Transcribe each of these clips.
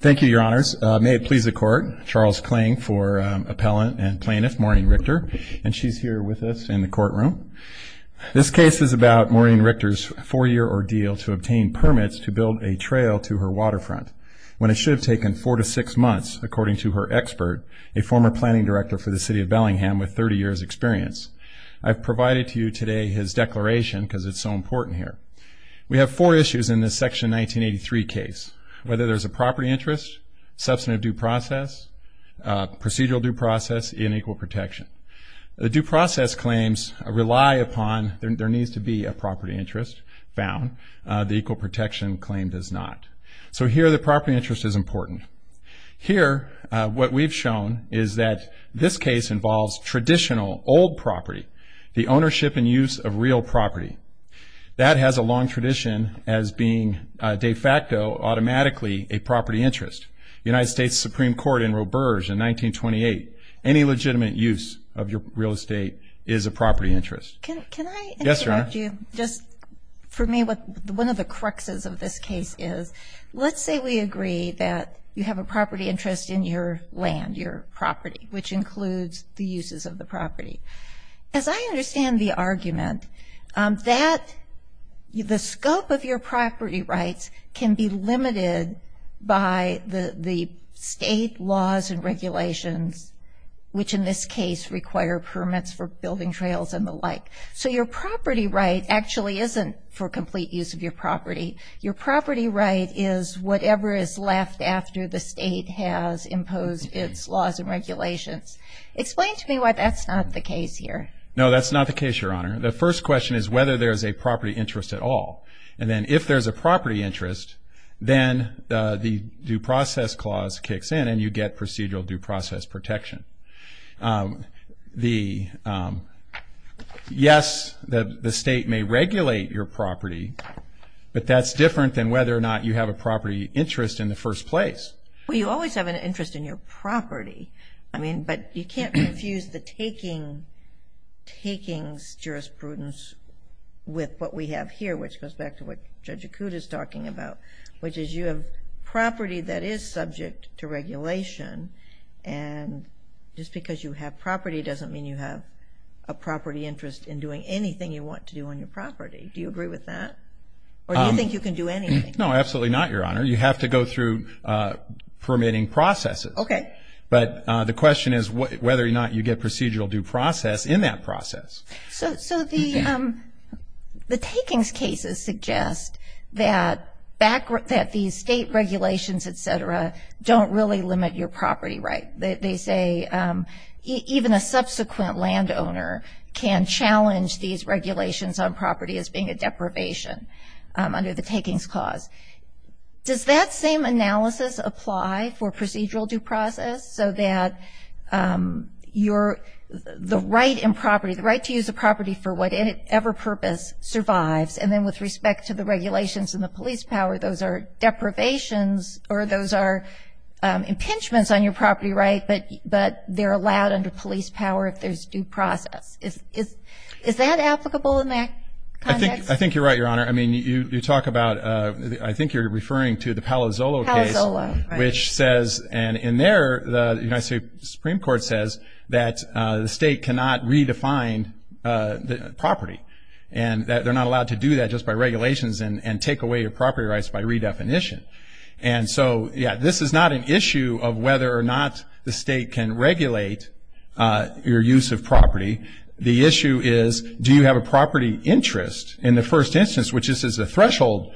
Thank you, Your Honors. May it please the Court, Charles Kling for Appellant and Plaintiff Maureen Richter, and she's here with us in the courtroom. This case is about Maureen Richter's four-year ordeal to obtain permits to build a trail to her waterfront, when it should have taken four to six months, according to her expert, a former planning director for the City of Bellingham with 30 years' experience. I've provided to you today his declaration because it's so important here. We have four issues in this Section 1983 case, whether there's a property interest, substantive due process, procedural due process, and equal protection. The due process claims rely upon, there needs to be a property interest found, the equal protection claim does not. So here the property interest is important. Here, what we've shown is that this case involves traditional, old property, the ownership and use of real property. That has a long tradition as being de facto, automatically, a property interest. United States Supreme Court in Roberge in 1928, any legitimate use of your real estate is a property interest. Can I interrupt you? Yes, Your Honor. For me, one of the cruxes of this case is, let's say we agree that you have a property interest in your land, your property, which includes the uses of the The scope of your property rights can be limited by the state laws and regulations, which in this case require permits for building trails and the like. So your property right actually isn't for complete use of your property. Your property right is whatever is left after the state has imposed its laws and regulations. Explain to me why that's not the case here. No, that's not the case, Your Honor. The first question is whether there's a property interest at all. And then if there's a property interest, then the due process clause kicks in and you get procedural due process protection. Yes, the state may regulate your property, but that's different than whether or not you have a property interest in the first place. Well, you always have an interest in your property. I mean, but you can't refuse the takings jurisprudence with what we have here, which goes back to what Judge Acuda is talking about, which is you have property that is subject to regulation. And just because you have property doesn't mean you have a property interest in doing anything you want to do on your property. Do you agree with that? Or do you think you can do anything? No, absolutely not, Your Honor. You have to go through permitting processes. Okay. But the question is whether or not you get procedural due process in that process. So the takings cases suggest that these state regulations, et cetera, don't really limit your property right. They say even a subsequent landowner can challenge these regulations on property as being a deprivation under the takings clause. Does that same analysis apply for procedural due process so that the right in property, the right to use a property for whatever purpose survives, and then with respect to the regulations and the police power, those are deprivations or those are impingements on your property right, but they're allowed under police power if there's due process? Is that applicable in that context? I think you're right, Your Honor. I mean, you talk about, I think you're referring to the Palazzolo case. Palazzolo, right. Which says, and in there the United States Supreme Court says that the state cannot redefine the property and that they're not allowed to do that just by regulations and take away your property rights by redefinition. And so, yeah, this is not an issue of whether or not the state can regulate your use of property. The issue is do you have a property interest in the first instance, which this is a threshold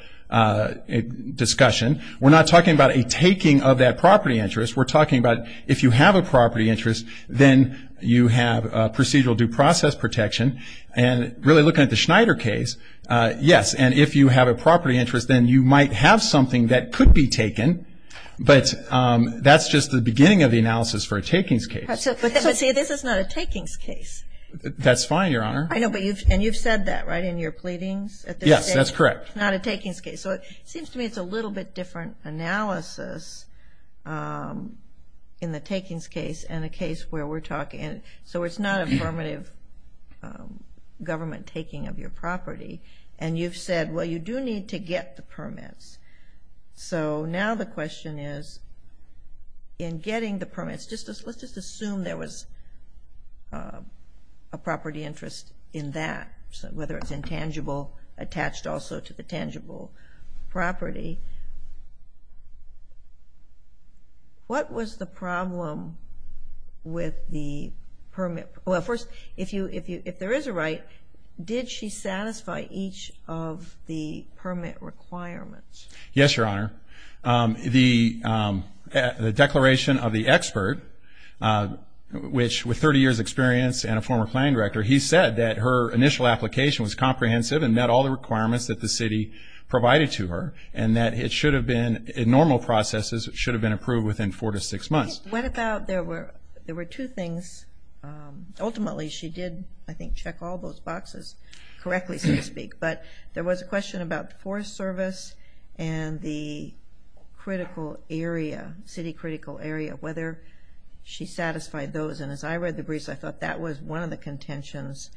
discussion. We're not talking about a taking of that property interest. We're talking about if you have a property interest, then you have procedural due process protection. And really looking at the Schneider case, yes, and if you have a property interest, then you might have something that could be taken, but that's just the beginning of the analysis for a takings case. But see, this is not a takings case. That's fine, Your Honor. I know, and you've said that, right, in your pleadings? Yes, that's correct. It's not a takings case. So it seems to me it's a little bit different analysis in the takings case and a case where we're talking. So it's not affirmative government taking of your property. And you've said, well, you do need to get the permits. So now the question is in getting the permits, let's just assume there was a property interest in that, whether it's intangible, attached also to the tangible property. What was the problem with the permit? Well, first, if there is a right, did she satisfy each of the permit requirements? Yes, Your Honor. The declaration of the expert, which with 30 years' experience and a former planning director, he said that her initial application was comprehensive and met all the requirements that the city provided to her, and that it should have been normal processes should have been approved within four to six months. What about there were two things? Ultimately, she did, I think, check all those boxes correctly, so to speak. But there was a question about forest service and the critical area, city critical area, whether she satisfied those. And as I read the briefs, I thought that was one of the contentions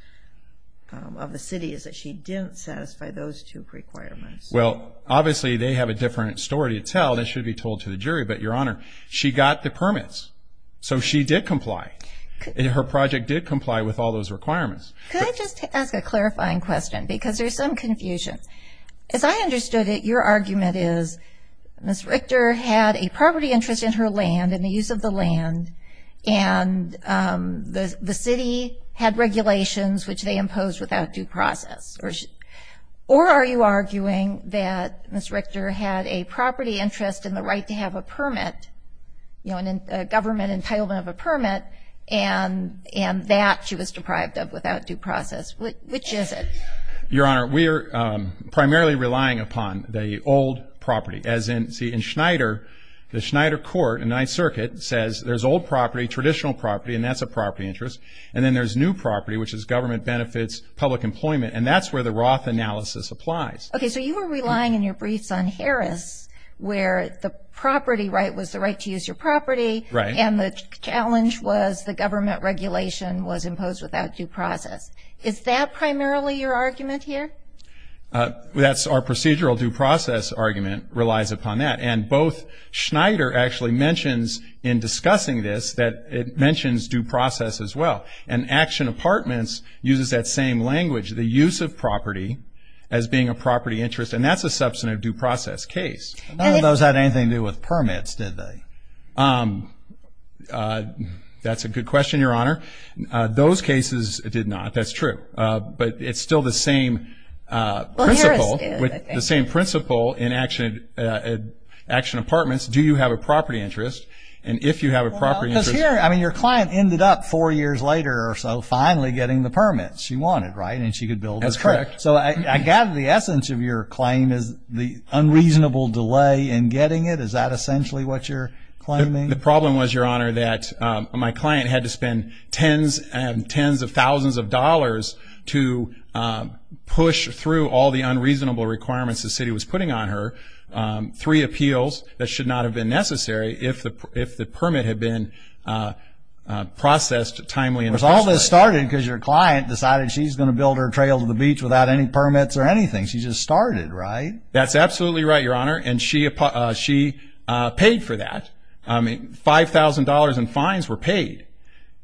of the city, is that she didn't satisfy those two requirements. Well, obviously, they have a different story to tell. That should be told to the jury. But, Your Honor, she got the permits, so she did comply. Her project did comply with all those requirements. Could I just ask a clarifying question? Because there's some confusion. As I understood it, your argument is Ms. Richter had a property interest in her land, in the use of the land, and the city had regulations which they imposed without due process. Or are you arguing that Ms. Richter had a property interest in the right to have a permit, a government entitlement of a permit, and that she was deprived of without due process? Which is it? Your Honor, we are primarily relying upon the old property. As in, see, in Schneider, the Schneider court in Ninth Circuit says there's old property, traditional property, and that's a property interest. And then there's new property, which is government benefits, public employment. And that's where the Roth analysis applies. Okay. So you were relying in your briefs on Harris where the property right was the right to use your property. Right. And the challenge was the government regulation was imposed without due process. Is that primarily your argument here? That's our procedural due process argument relies upon that. And both Schneider actually mentions in discussing this that it mentions due process as well. And Action Apartments uses that same language. The use of property as being a property interest. And that's a substantive due process case. None of those had anything to do with permits, did they? That's a good question, Your Honor. Those cases did not. That's true. But it's still the same principle in Action Apartments. Do you have a property interest? And if you have a property interest. Because here, I mean, your client ended up four years later or so finally getting the permit. She wanted, right? And she could build her home. That's correct. So I gather the essence of your claim is the unreasonable delay in getting it. Is that essentially what you're claiming? The problem was, Your Honor, that my client had to spend tens and tens of thousands of dollars to push through all the unreasonable requirements the city was putting on her, three appeals that should not have been necessary if the permit had been processed timely. Because all this started because your client decided she's going to build her trail to the beach without any permits or anything. She just started, right? That's absolutely right, Your Honor. And she paid for that. I mean, $5,000 in fines were paid.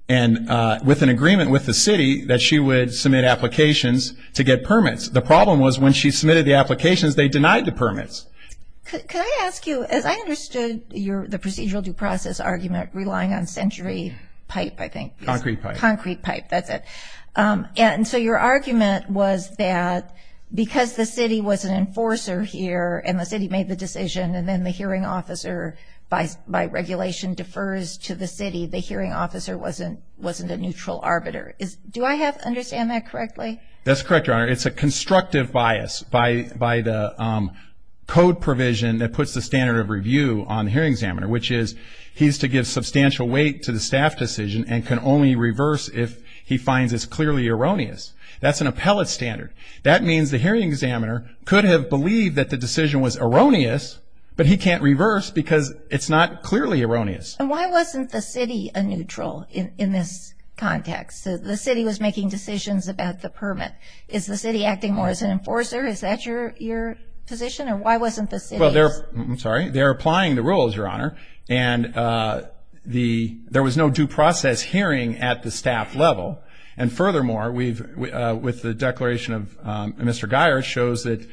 And with an agreement with the city that she would submit applications to get permits. The problem was when she submitted the applications, they denied the permits. Could I ask you, as I understood the procedural due process argument relying on century pipe, I think. Concrete pipe. Concrete pipe, that's it. And so your argument was that because the city was an enforcer here and the city made the decision and then the hearing officer, by regulation, defers to the city, the hearing officer wasn't a neutral arbiter. Do I understand that correctly? That's correct, Your Honor. It's a constructive bias by the code provision that puts the standard of review on the hearing examiner, which is he's to give substantial weight to the staff decision and can only reverse if he finds it's clearly erroneous. That's an appellate standard. That means the hearing examiner could have believed that the decision was erroneous, but he can't reverse because it's not clearly erroneous. And why wasn't the city a neutral in this context? The city was making decisions about the permit. Is the city acting more as an enforcer? Is that your position? And why wasn't the city? Well, they're applying the rules, Your Honor, and there was no due process hearing at the staff level. And furthermore, with the declaration of Mr. Guyer, it shows that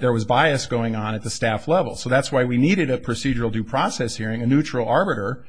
there was bias going on at the staff level. So that's why we needed a procedural due process hearing, a neutral arbiter,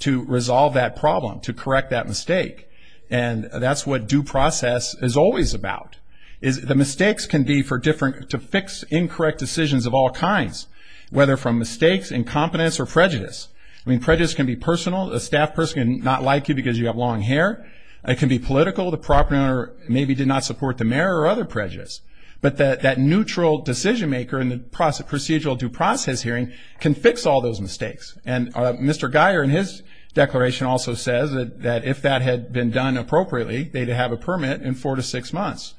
to resolve that problem, to correct that mistake, and that's what due process is always about. The mistakes can be for different, to fix incorrect decisions of all kinds, whether from mistakes, incompetence, or prejudice. I mean, prejudice can be personal. A staff person can not like you because you have long hair. It can be political. The property owner maybe did not support the mayor or other prejudice. But that neutral decision maker in the procedural due process hearing can fix all those mistakes. And Mr. Guyer in his declaration also says that if that had been done appropriately, they'd have a permit in four to six months.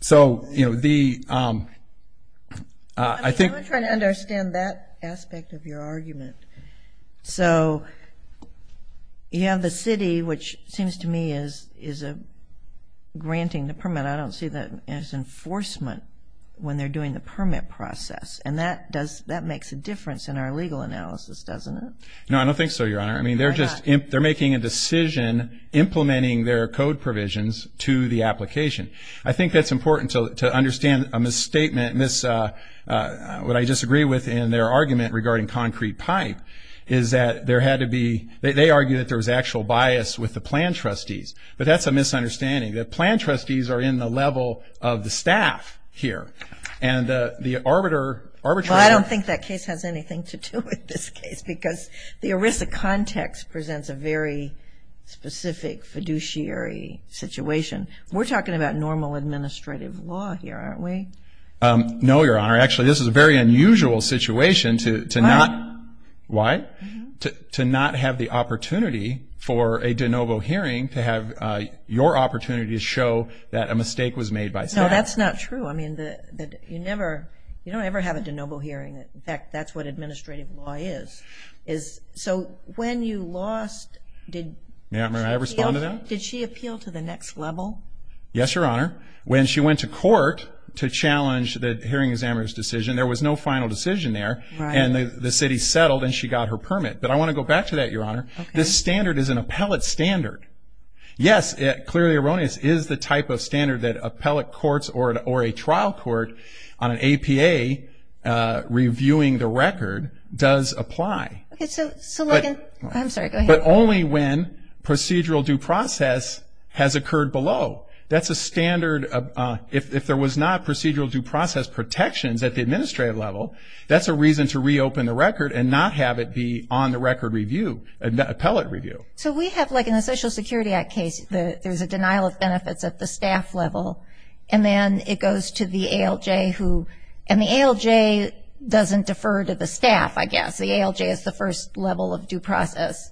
So, you know, the ‑‑ I'm trying to understand that aspect of your argument. So you have the city, which seems to me is granting the permit. I don't see that as enforcement when they're doing the permit process. And that makes a difference in our legal analysis, doesn't it? No, I don't think so, Your Honor. I mean, they're making a decision implementing their code provisions to the application. I think that's important to understand a misstatement, what I disagree with in their argument regarding concrete pipe, is that there had to be ‑‑ they argue that there was actual bias with the plan trustees. But that's a misunderstanding. The plan trustees are in the level of the staff here. And the arbitrator ‑‑ Well, I don't think that case has anything to do with this case because the ERISA context presents a very specific fiduciary situation. We're talking about normal administrative law here, aren't we? No, Your Honor. Actually, this is a very unusual situation to not ‑‑ Why? Why? To not have the opportunity for a de novo hearing, to have your opportunity to show that a mistake was made by staff. No, that's not true. I mean, you never ‑‑ you don't ever have a de novo hearing. In fact, that's what administrative law is. So when you lost, did she appeal? May I respond to that? Did she appeal to the next level? Yes, Your Honor. When she went to court to challenge the hearing examiner's decision, there was no final decision there. Right. And the city settled and she got her permit. But I want to go back to that, Your Honor. Okay. This standard is an appellate standard. Yes, clearly erroneous is the type of standard that appellate courts or a trial court on an APA reviewing the record does apply. Okay. So, Logan ‑‑ I'm sorry. Go ahead. But only when procedural due process has occurred below. That's a standard. If there was not procedural due process protections at the administrative level, that's a reason to reopen the record and not have it be on the record review, appellate review. So we have, like, in the Social Security Act case, there's a denial of benefits at the staff level, and then it goes to the ALJ who ‑‑ and the ALJ doesn't defer to the staff, I guess. The ALJ is the first level of due process.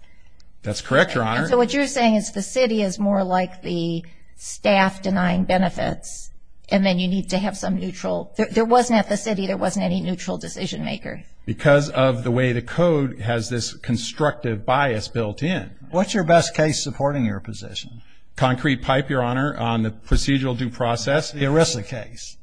That's correct, Your Honor. So what you're saying is the city is more like the staff denying benefits and then you need to have some neutral ‑‑ there wasn't at the city, there wasn't any neutral decision maker. Because of the way the code has this constructive bias built in. What's your best case supporting your position? Concrete pipe, Your Honor, on the procedural due process. The Arresla case.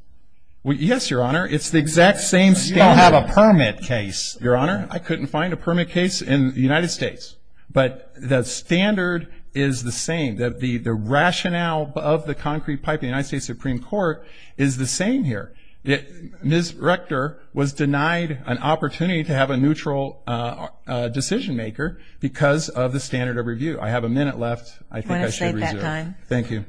Yes, Your Honor. It's the exact same standard. You don't have a permit case. Your Honor, I couldn't find a permit case in the United States. But the standard is the same. The rationale of the concrete pipe in the United States Supreme Court is the same here. Ms. Rector was denied an opportunity to have a neutral decision maker because of the standard of review. I have a minute left. I think I should reserve. Thank you.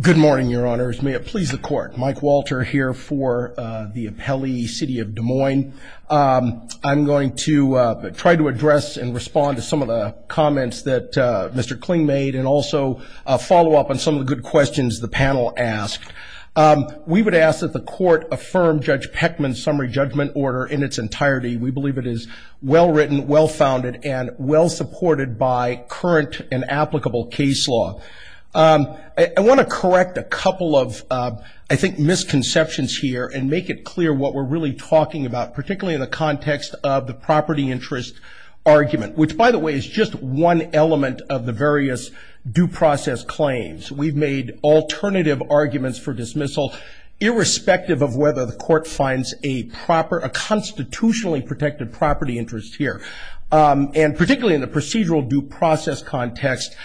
Good morning, Your Honors. May it please the Court. Mike Walter here for the appellee city of Des Moines. I'm going to try to address and respond to some of the comments that Mr. Kling made and also follow up on some of the good questions the panel asked. We would ask that the Court affirm Judge Peckman's summary judgment order in its entirety. We believe it is well written, well founded, and well supported by current and applicable case law. I want to correct a couple of, I think, misconceptions here and make it clear what we're really talking about, particularly in the context of the property interest argument, which, by the way, is just one element of the various due process claims. We've made alternative arguments for dismissal, irrespective of whether the Court finds a constitutionally protected property interest here. And particularly in the procedural due process context,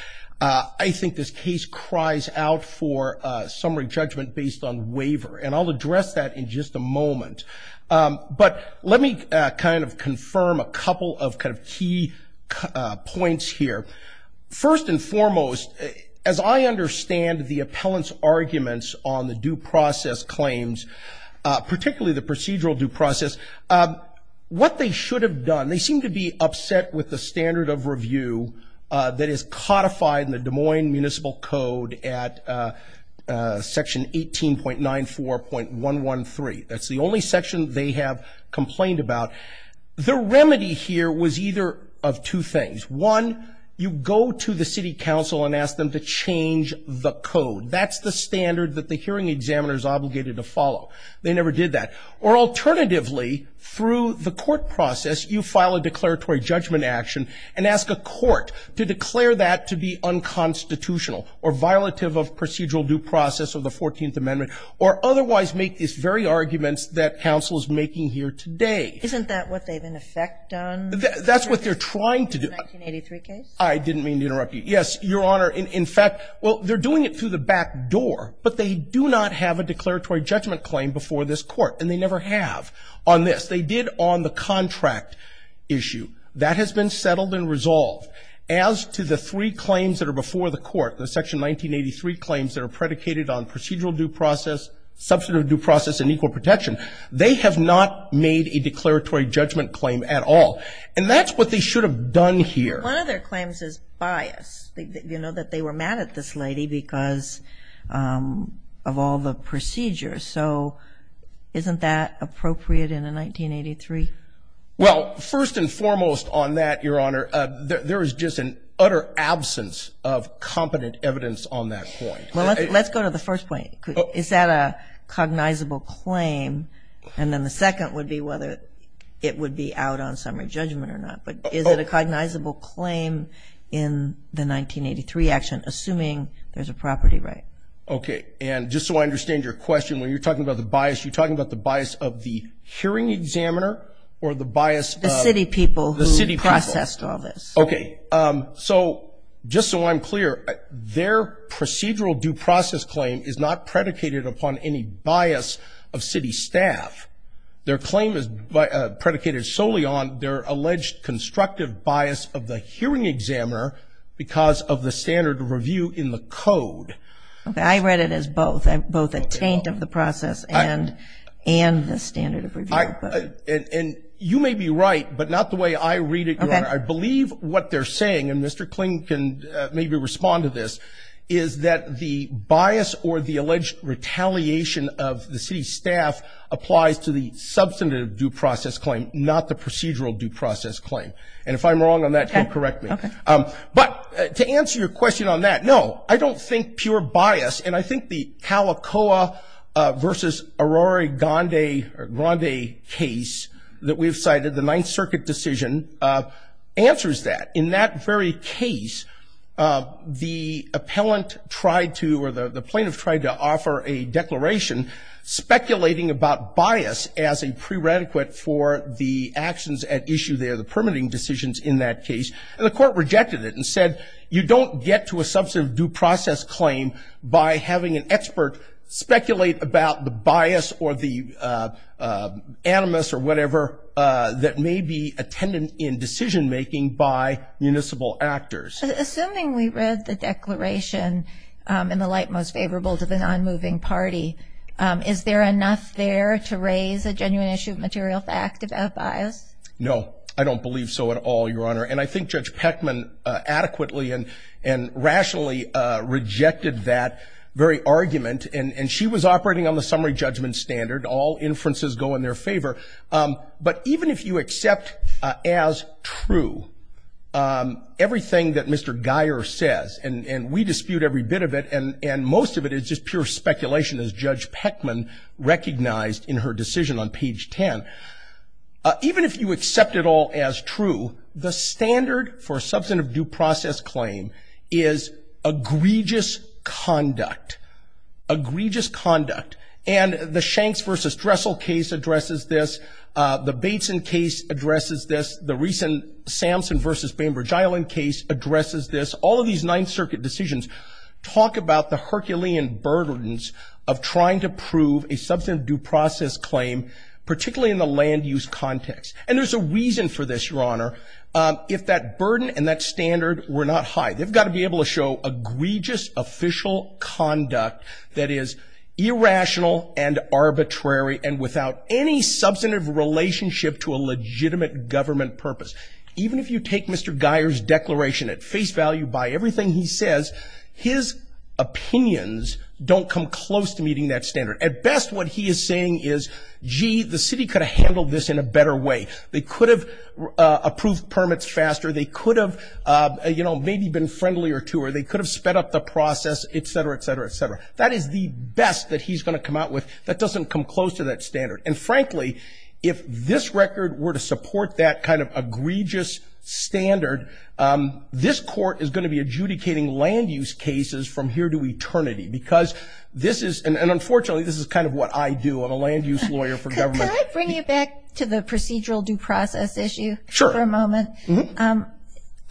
I think this case cries out for summary judgment based on waiver. And I'll address that in just a moment. But let me kind of confirm a couple of kind of key points here. First and foremost, as I understand the appellant's arguments on the due process claims, particularly the procedural due process, what they should have done, they seem to be upset with the standard of review that is codified in the Des Moines Municipal Code at Section 18.94.113. That's the only section they have complained about. The remedy here was either of two things. One, you go to the city council and ask them to change the code. That's the standard that the hearing examiner is obligated to follow. They never did that. Or alternatively, through the court process, you file a declaratory judgment action and ask a court to declare that to be unconstitutional or violative of procedural due process of the Fourteenth Amendment or otherwise make these very arguments that counsel is making here today. Isn't that what they've in effect done? That's what they're trying to do. The 1983 case? I didn't mean to interrupt you. Yes, Your Honor. In fact, well, they're doing it through the back door, but they do not have a declaratory judgment claim before this court, and they never have on this. They did on the contract issue. That has been settled and resolved. As to the three claims that are before the court, the Section 1983 claims that are predicated on procedural due process, substantive due process, and equal protection, they have not made a declaratory judgment claim at all. And that's what they should have done here. One of their claims is bias. You know that they were mad at this lady because of all the procedures. So isn't that appropriate in a 1983? Well, first and foremost on that, Your Honor, there is just an utter absence of competent evidence on that point. Well, let's go to the first point. Is that a cognizable claim? And then the second would be whether it would be out on summary judgment or not. But is it a cognizable claim in the 1983 action, assuming there's a property right? Okay. And just so I understand your question, when you're talking about the bias, you're talking about the bias of the hearing examiner or the bias of the city people who processed all this? Okay. So just so I'm clear, their procedural due process claim is not predicated upon any bias of city staff. Their claim is predicated solely on their alleged constructive bias of the hearing examiner because of the standard review in the code. Okay. I read it as both. Both a taint of the process and the standard of review. And you may be right, but not the way I read it, Your Honor. I believe what they're saying, and Mr. Kling can maybe respond to this, is that the bias or the alleged retaliation of the city staff applies to the substantive due process claim, not the procedural due process claim. And if I'm wrong on that, can you correct me? Okay. But to answer your question on that, no, I don't think pure bias, and I think the Calicoa versus Arori Grande case that we've cited, the Ninth Circuit decision, answers that. In that very case, the appellant tried to, or the plaintiff tried to, offer a declaration speculating about bias as a prerequisite for the actions at issue there, the permitting decisions in that case. And the court rejected it and said, you don't get to a substantive due process claim by having an expert speculate about the bias or the animus or whatever that may be attendant in decision-making by municipal actors. Assuming we read the declaration in the light most favorable to the non-moving party, is there enough there to raise a genuine issue of material fact about bias? No, I don't believe so at all, Your Honor. And I think Judge Peckman adequately and rationally rejected that very argument, and she was operating on the summary judgment standard, all inferences go in their favor. But even if you accept as true everything that Mr. Geyer says, and we dispute every bit of it, and most of it is just pure speculation as Judge Peckman recognized in her decision on page 10, even if you accept it all as true, the standard for a substantive due process claim is egregious conduct, egregious conduct, and the Shanks versus Dressel case addresses this. The Bateson case addresses this. The recent Samson versus Bainbridge Island case addresses this. All of these Ninth Circuit decisions talk about the Herculean burdens of trying to prove a substantive due process claim, particularly in the land use context. And there's a reason for this, Your Honor. If that burden and that standard were not high, they've got to be able to show egregious official conduct that is irrational and arbitrary and without any substantive relationship to a legitimate government purpose. Even if you take Mr. Geyer's declaration at face value by everything he says, his opinions don't come close to meeting that standard. At best, what he is saying is, gee, the city could have handled this in a better way. They could have approved permits faster. They could have, you know, maybe been friendlier to her. They could have sped up the process, et cetera, et cetera, et cetera. That is the best that he's going to come out with. That doesn't come close to that standard. And, frankly, if this record were to support that kind of egregious standard, this court is going to be adjudicating land use cases from here to eternity because this is and, unfortunately, this is kind of what I do. I'm a land use lawyer for government. Can I bring you back to the procedural due process issue for a moment? Sure.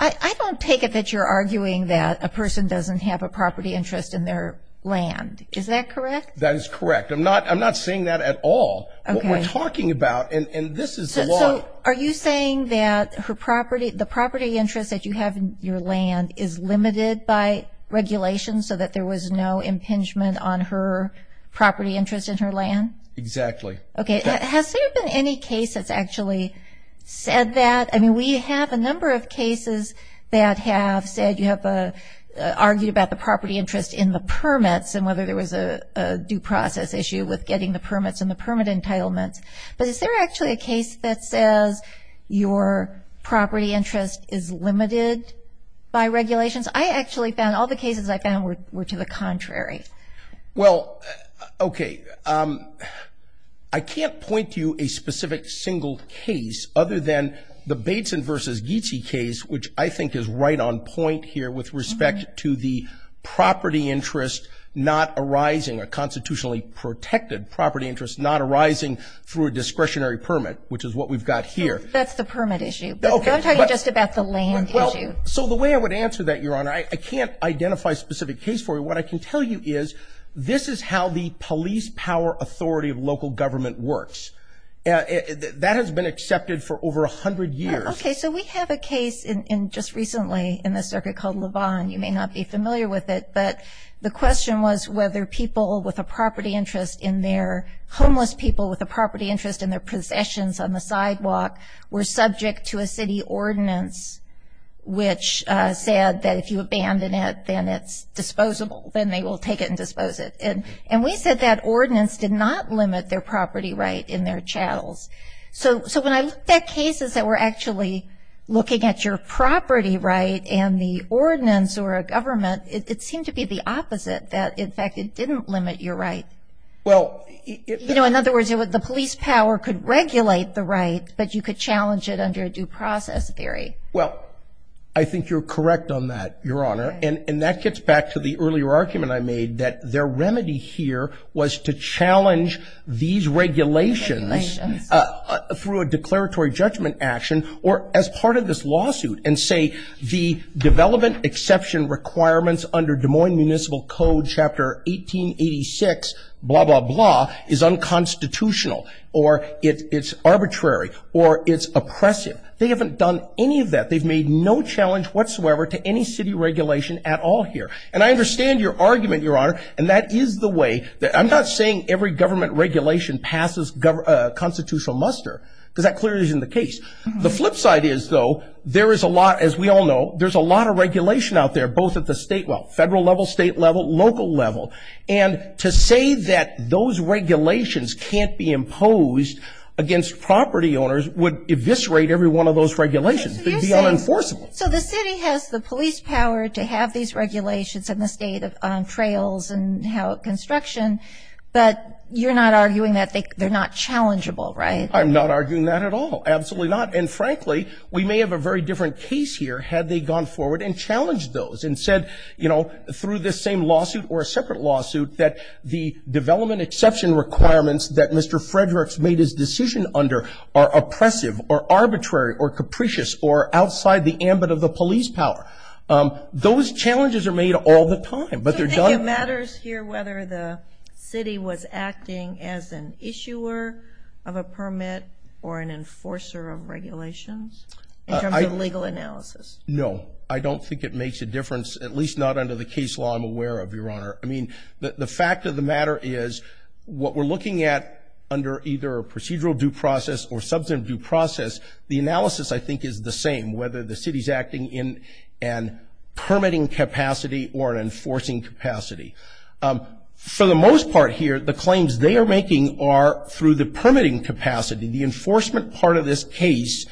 I don't take it that you're arguing that a person doesn't have a property interest in their land. Is that correct? That is correct. I'm not saying that at all. What we're talking about, and this is the law. So are you saying that the property interest that you have in your land is limited by regulation so that there was no impingement on her property interest in her land? Exactly. Okay. Has there been any case that's actually said that? I mean, we have a number of cases that have said you have argued about the property interest in the permits and whether there was a due process issue with getting the permits and the permit entitlements. But is there actually a case that says your property interest is limited by regulations? I actually found all the cases I found were to the contrary. Well, okay. I can't point to you a specific single case other than the Bateson v. Ghizi case, which I think is right on point here with respect to the property interest not arising, a constitutionally protected property interest not arising through a discretionary permit, which is what we've got here. That's the permit issue. I'm talking just about the land issue. So the way I would answer that, Your Honor, I can't identify a specific case for you. But what I can tell you is this is how the police power authority of local government works. That has been accepted for over 100 years. Okay. So we have a case just recently in the circuit called Levon. You may not be familiar with it, but the question was whether people with a property interest in their – homeless people with a property interest in their possessions on the sidewalk were subject to a city ordinance which said that if you abandon it, then it's disposable. Then they will take it and dispose it. And we said that ordinance did not limit their property right in their chattels. So when I look at cases that were actually looking at your property right and the ordinance or a government, it seemed to be the opposite, that, in fact, it didn't limit your right. You know, in other words, the police power could regulate the right, but you could challenge it under a due process theory. Well, I think you're correct on that, Your Honor. And that gets back to the earlier argument I made that their remedy here was to challenge these regulations through a declaratory judgment action or as part of this lawsuit and say the development exception requirements under Des Moines Municipal Code Chapter 1886, blah, blah, blah, is unconstitutional or it's arbitrary or it's oppressive. They haven't done any of that. They've made no challenge whatsoever to any city regulation at all here. And I understand your argument, Your Honor, and that is the way – I'm not saying every government regulation passes constitutional muster because that clearly isn't the case. The flip side is, though, there is a lot – as we all know, there's a lot of regulation out there, both at the state – well, federal level, state level, local level. And to say that those regulations can't be imposed against property owners would eviscerate every one of those regulations. It would be unenforceable. So the city has the police power to have these regulations in the state on trails and construction, but you're not arguing that they're not challengeable, right? I'm not arguing that at all. Absolutely not. And, frankly, we may have a very different case here had they gone forward and challenged those and said, you know, through this same lawsuit or a separate lawsuit, that the development exception requirements that Mr. Frederick's made his decision under are oppressive or arbitrary or capricious or outside the ambit of the police power. Those challenges are made all the time, but they're done – Does it matter here whether the city was acting as an issuer of a permit or an enforcer of regulations in terms of legal analysis? No. I don't think it makes a difference, at least not under the case law I'm aware of, Your Honor. I mean, the fact of the matter is what we're looking at under either a procedural due process or substantive due process, the analysis, I think, is the same, whether the city's acting in a permitting capacity or an enforcing capacity. For the most part here, the claims they are making are through the permitting capacity. The enforcement part of this case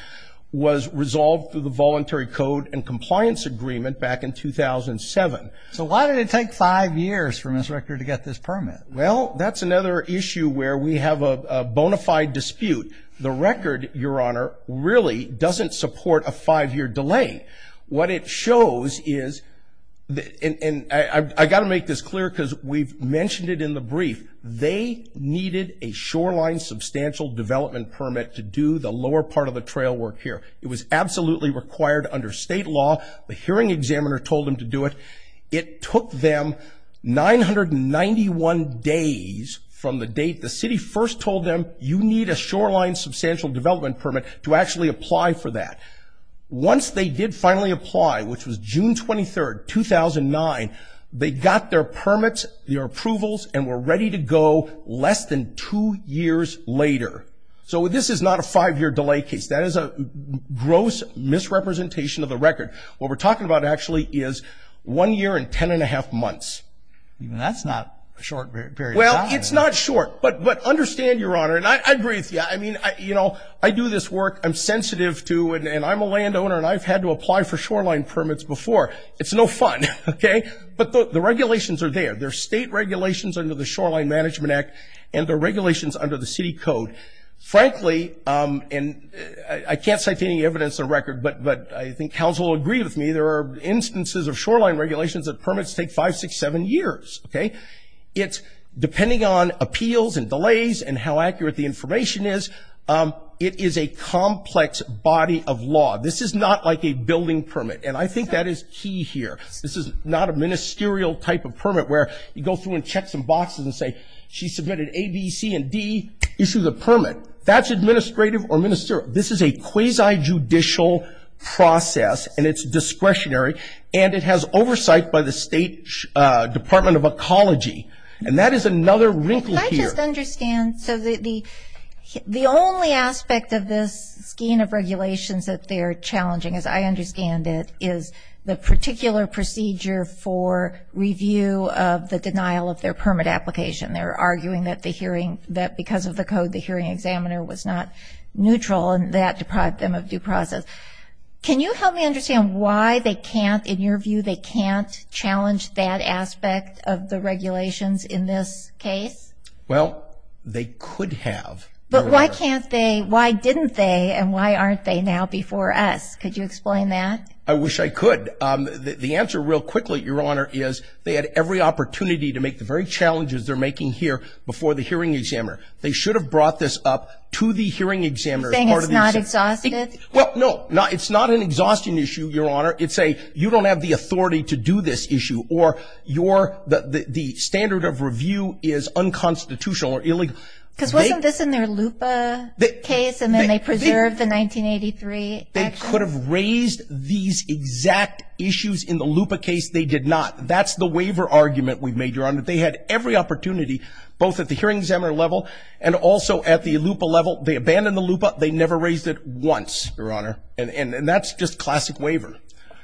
was resolved through the Voluntary Code and Compliance Agreement back in 2007. So why did it take five years for Mr. Richter to get this permit? Well, that's another issue where we have a bona fide dispute. The record, Your Honor, really doesn't support a five-year delay. What it shows is – and I've got to make this clear because we've mentioned it in the brief – they needed a shoreline substantial development permit to do the lower part of the trail work here. It was absolutely required under state law. The hearing examiner told them to do it. It took them 991 days from the date the city first told them, You need a shoreline substantial development permit to actually apply for that. Once they did finally apply, which was June 23, 2009, they got their permits, their approvals, and were ready to go less than two years later. So this is not a five-year delay case. That is a gross misrepresentation of the record. What we're talking about actually is one year and ten and a half months. That's not a short period of time. Well, it's not short, but understand, Your Honor, and I agree with you. I mean, you know, I do this work. I'm sensitive to it, and I'm a landowner, and I've had to apply for shoreline permits before. It's no fun, okay? But the regulations are there. There are state regulations under the Shoreline Management Act, and there are regulations under the city code. Frankly, and I can't cite any evidence or record, but I think counsel will agree with me, there are instances of shoreline regulations that permits take five, six, seven years, okay? It's depending on appeals and delays and how accurate the information is, it is a complex body of law. This is not like a building permit, and I think that is key here. This is not a ministerial type of permit where you go through and check some boxes and say, she submitted A, B, C, and D, issue the permit. That's administrative or ministerial. This is a quasi-judicial process, and it's discretionary, and it has oversight by the State Department of Ecology, and that is another wrinkle here. Can I just understand? So the only aspect of this scheme of regulations that they're challenging, as I understand it, is the particular procedure for review of the denial of their permit application. They're arguing that because of the code, the hearing examiner was not neutral, and that deprived them of due process. Can you help me understand why they can't, in your view, they can't challenge that aspect of the regulations in this case? Well, they could have. But why can't they, why didn't they, and why aren't they now before us? Could you explain that? I wish I could. The answer, real quickly, Your Honor, is they had every opportunity to make the very challenges they're making here before the hearing examiner. They should have brought this up to the hearing examiner. Saying it's not exhaustive? Well, no, it's not an exhausting issue, Your Honor. It's a you don't have the authority to do this issue, or the standard of review is unconstitutional or illegal. Because wasn't this in their LUPA case, and then they preserved the 1983 action? They could have raised these exact issues in the LUPA case. They did not. That's the waiver argument we've made, Your Honor. They had every opportunity, both at the hearing examiner level and also at the LUPA level. They abandoned the LUPA. They never raised it once, Your Honor. And that's just classic waiver.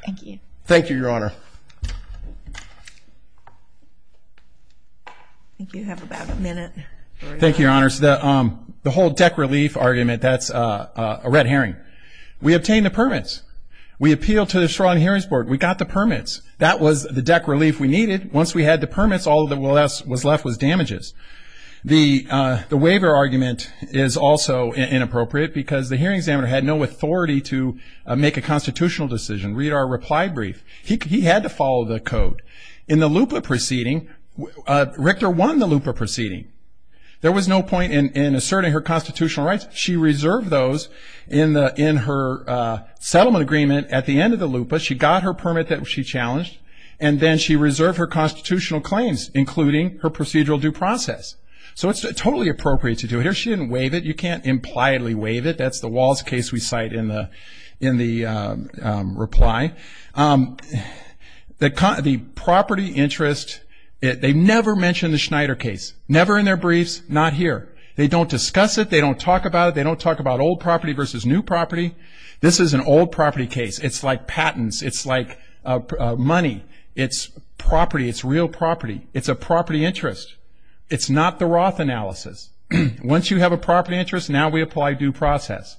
Thank you. Thank you, Your Honor. I think you have about a minute. Thank you, Your Honor. The whole deck relief argument, that's a red herring. We obtained the permits. We appealed to the Shoreline Hearings Board. We got the permits. That was the deck relief we needed. Once we had the permits, all that was left was damages. The waiver argument is also inappropriate because the hearing examiner had no authority to make a constitutional decision. Read our reply brief. He had to follow the code. In the LUPA proceeding, Richter won the LUPA proceeding. There was no point in asserting her constitutional rights. She reserved those in her settlement agreement at the end of the LUPA. She got her permit that she challenged, and then she reserved her constitutional claims, including her procedural due process. So it's totally appropriate to do it. Here she didn't waive it. You can't impliedly waive it. That's the Walls case we cite in the reply. The property interest, they never mention the Schneider case, never in their briefs, not here. They don't discuss it. They don't talk about it. They don't talk about old property versus new property. This is an old property case. It's like patents. It's like money. It's property. It's real property. It's a property interest. It's not the Roth analysis. Once you have a property interest, now we apply due process.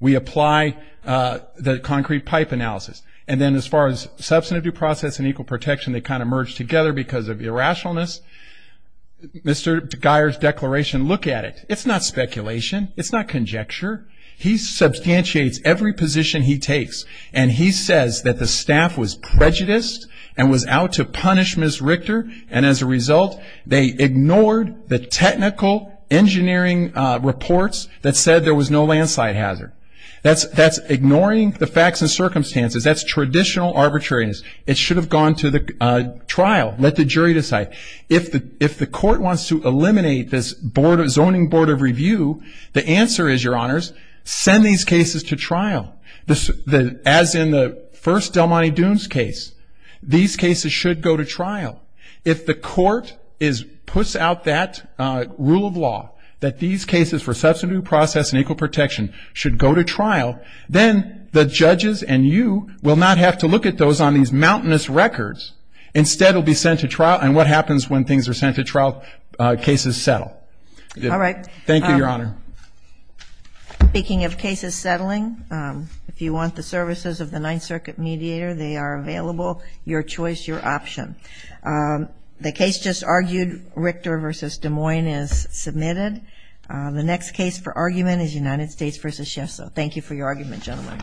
We apply the concrete pipe analysis. And then as far as substantive due process and equal protection, they kind of merge together because of irrationalness. Mr. Geier's declaration, look at it. It's not speculation. It's not conjecture. He substantiates every position he takes, and he says that the staff was prejudiced and was out to punish Ms. Richter, and as a result they ignored the technical engineering reports that said there was no landslide hazard. That's ignoring the facts and circumstances. That's traditional arbitrariness. It should have gone to the trial. Let the jury decide. If the court wants to eliminate this Zoning Board of Review, the answer is, Your Honors, send these cases to trial. As in the first Del Monte Dunes case, these cases should go to trial. If the court puts out that rule of law that these cases for substantive due process and equal protection should go to trial, then the judges and you will not have to look at those on these mountainous records. Instead, it will be sent to trial, and what happens when things are sent to trial? Cases settle. All right. Thank you, Your Honor. Speaking of cases settling, if you want the services of the Ninth Circuit mediator, they are available, your choice, your option. The case just argued, Richter v. Des Moines, is submitted. The next case for argument is United States v. Schiff. Thank you for your argument, gentlemen. Thank you.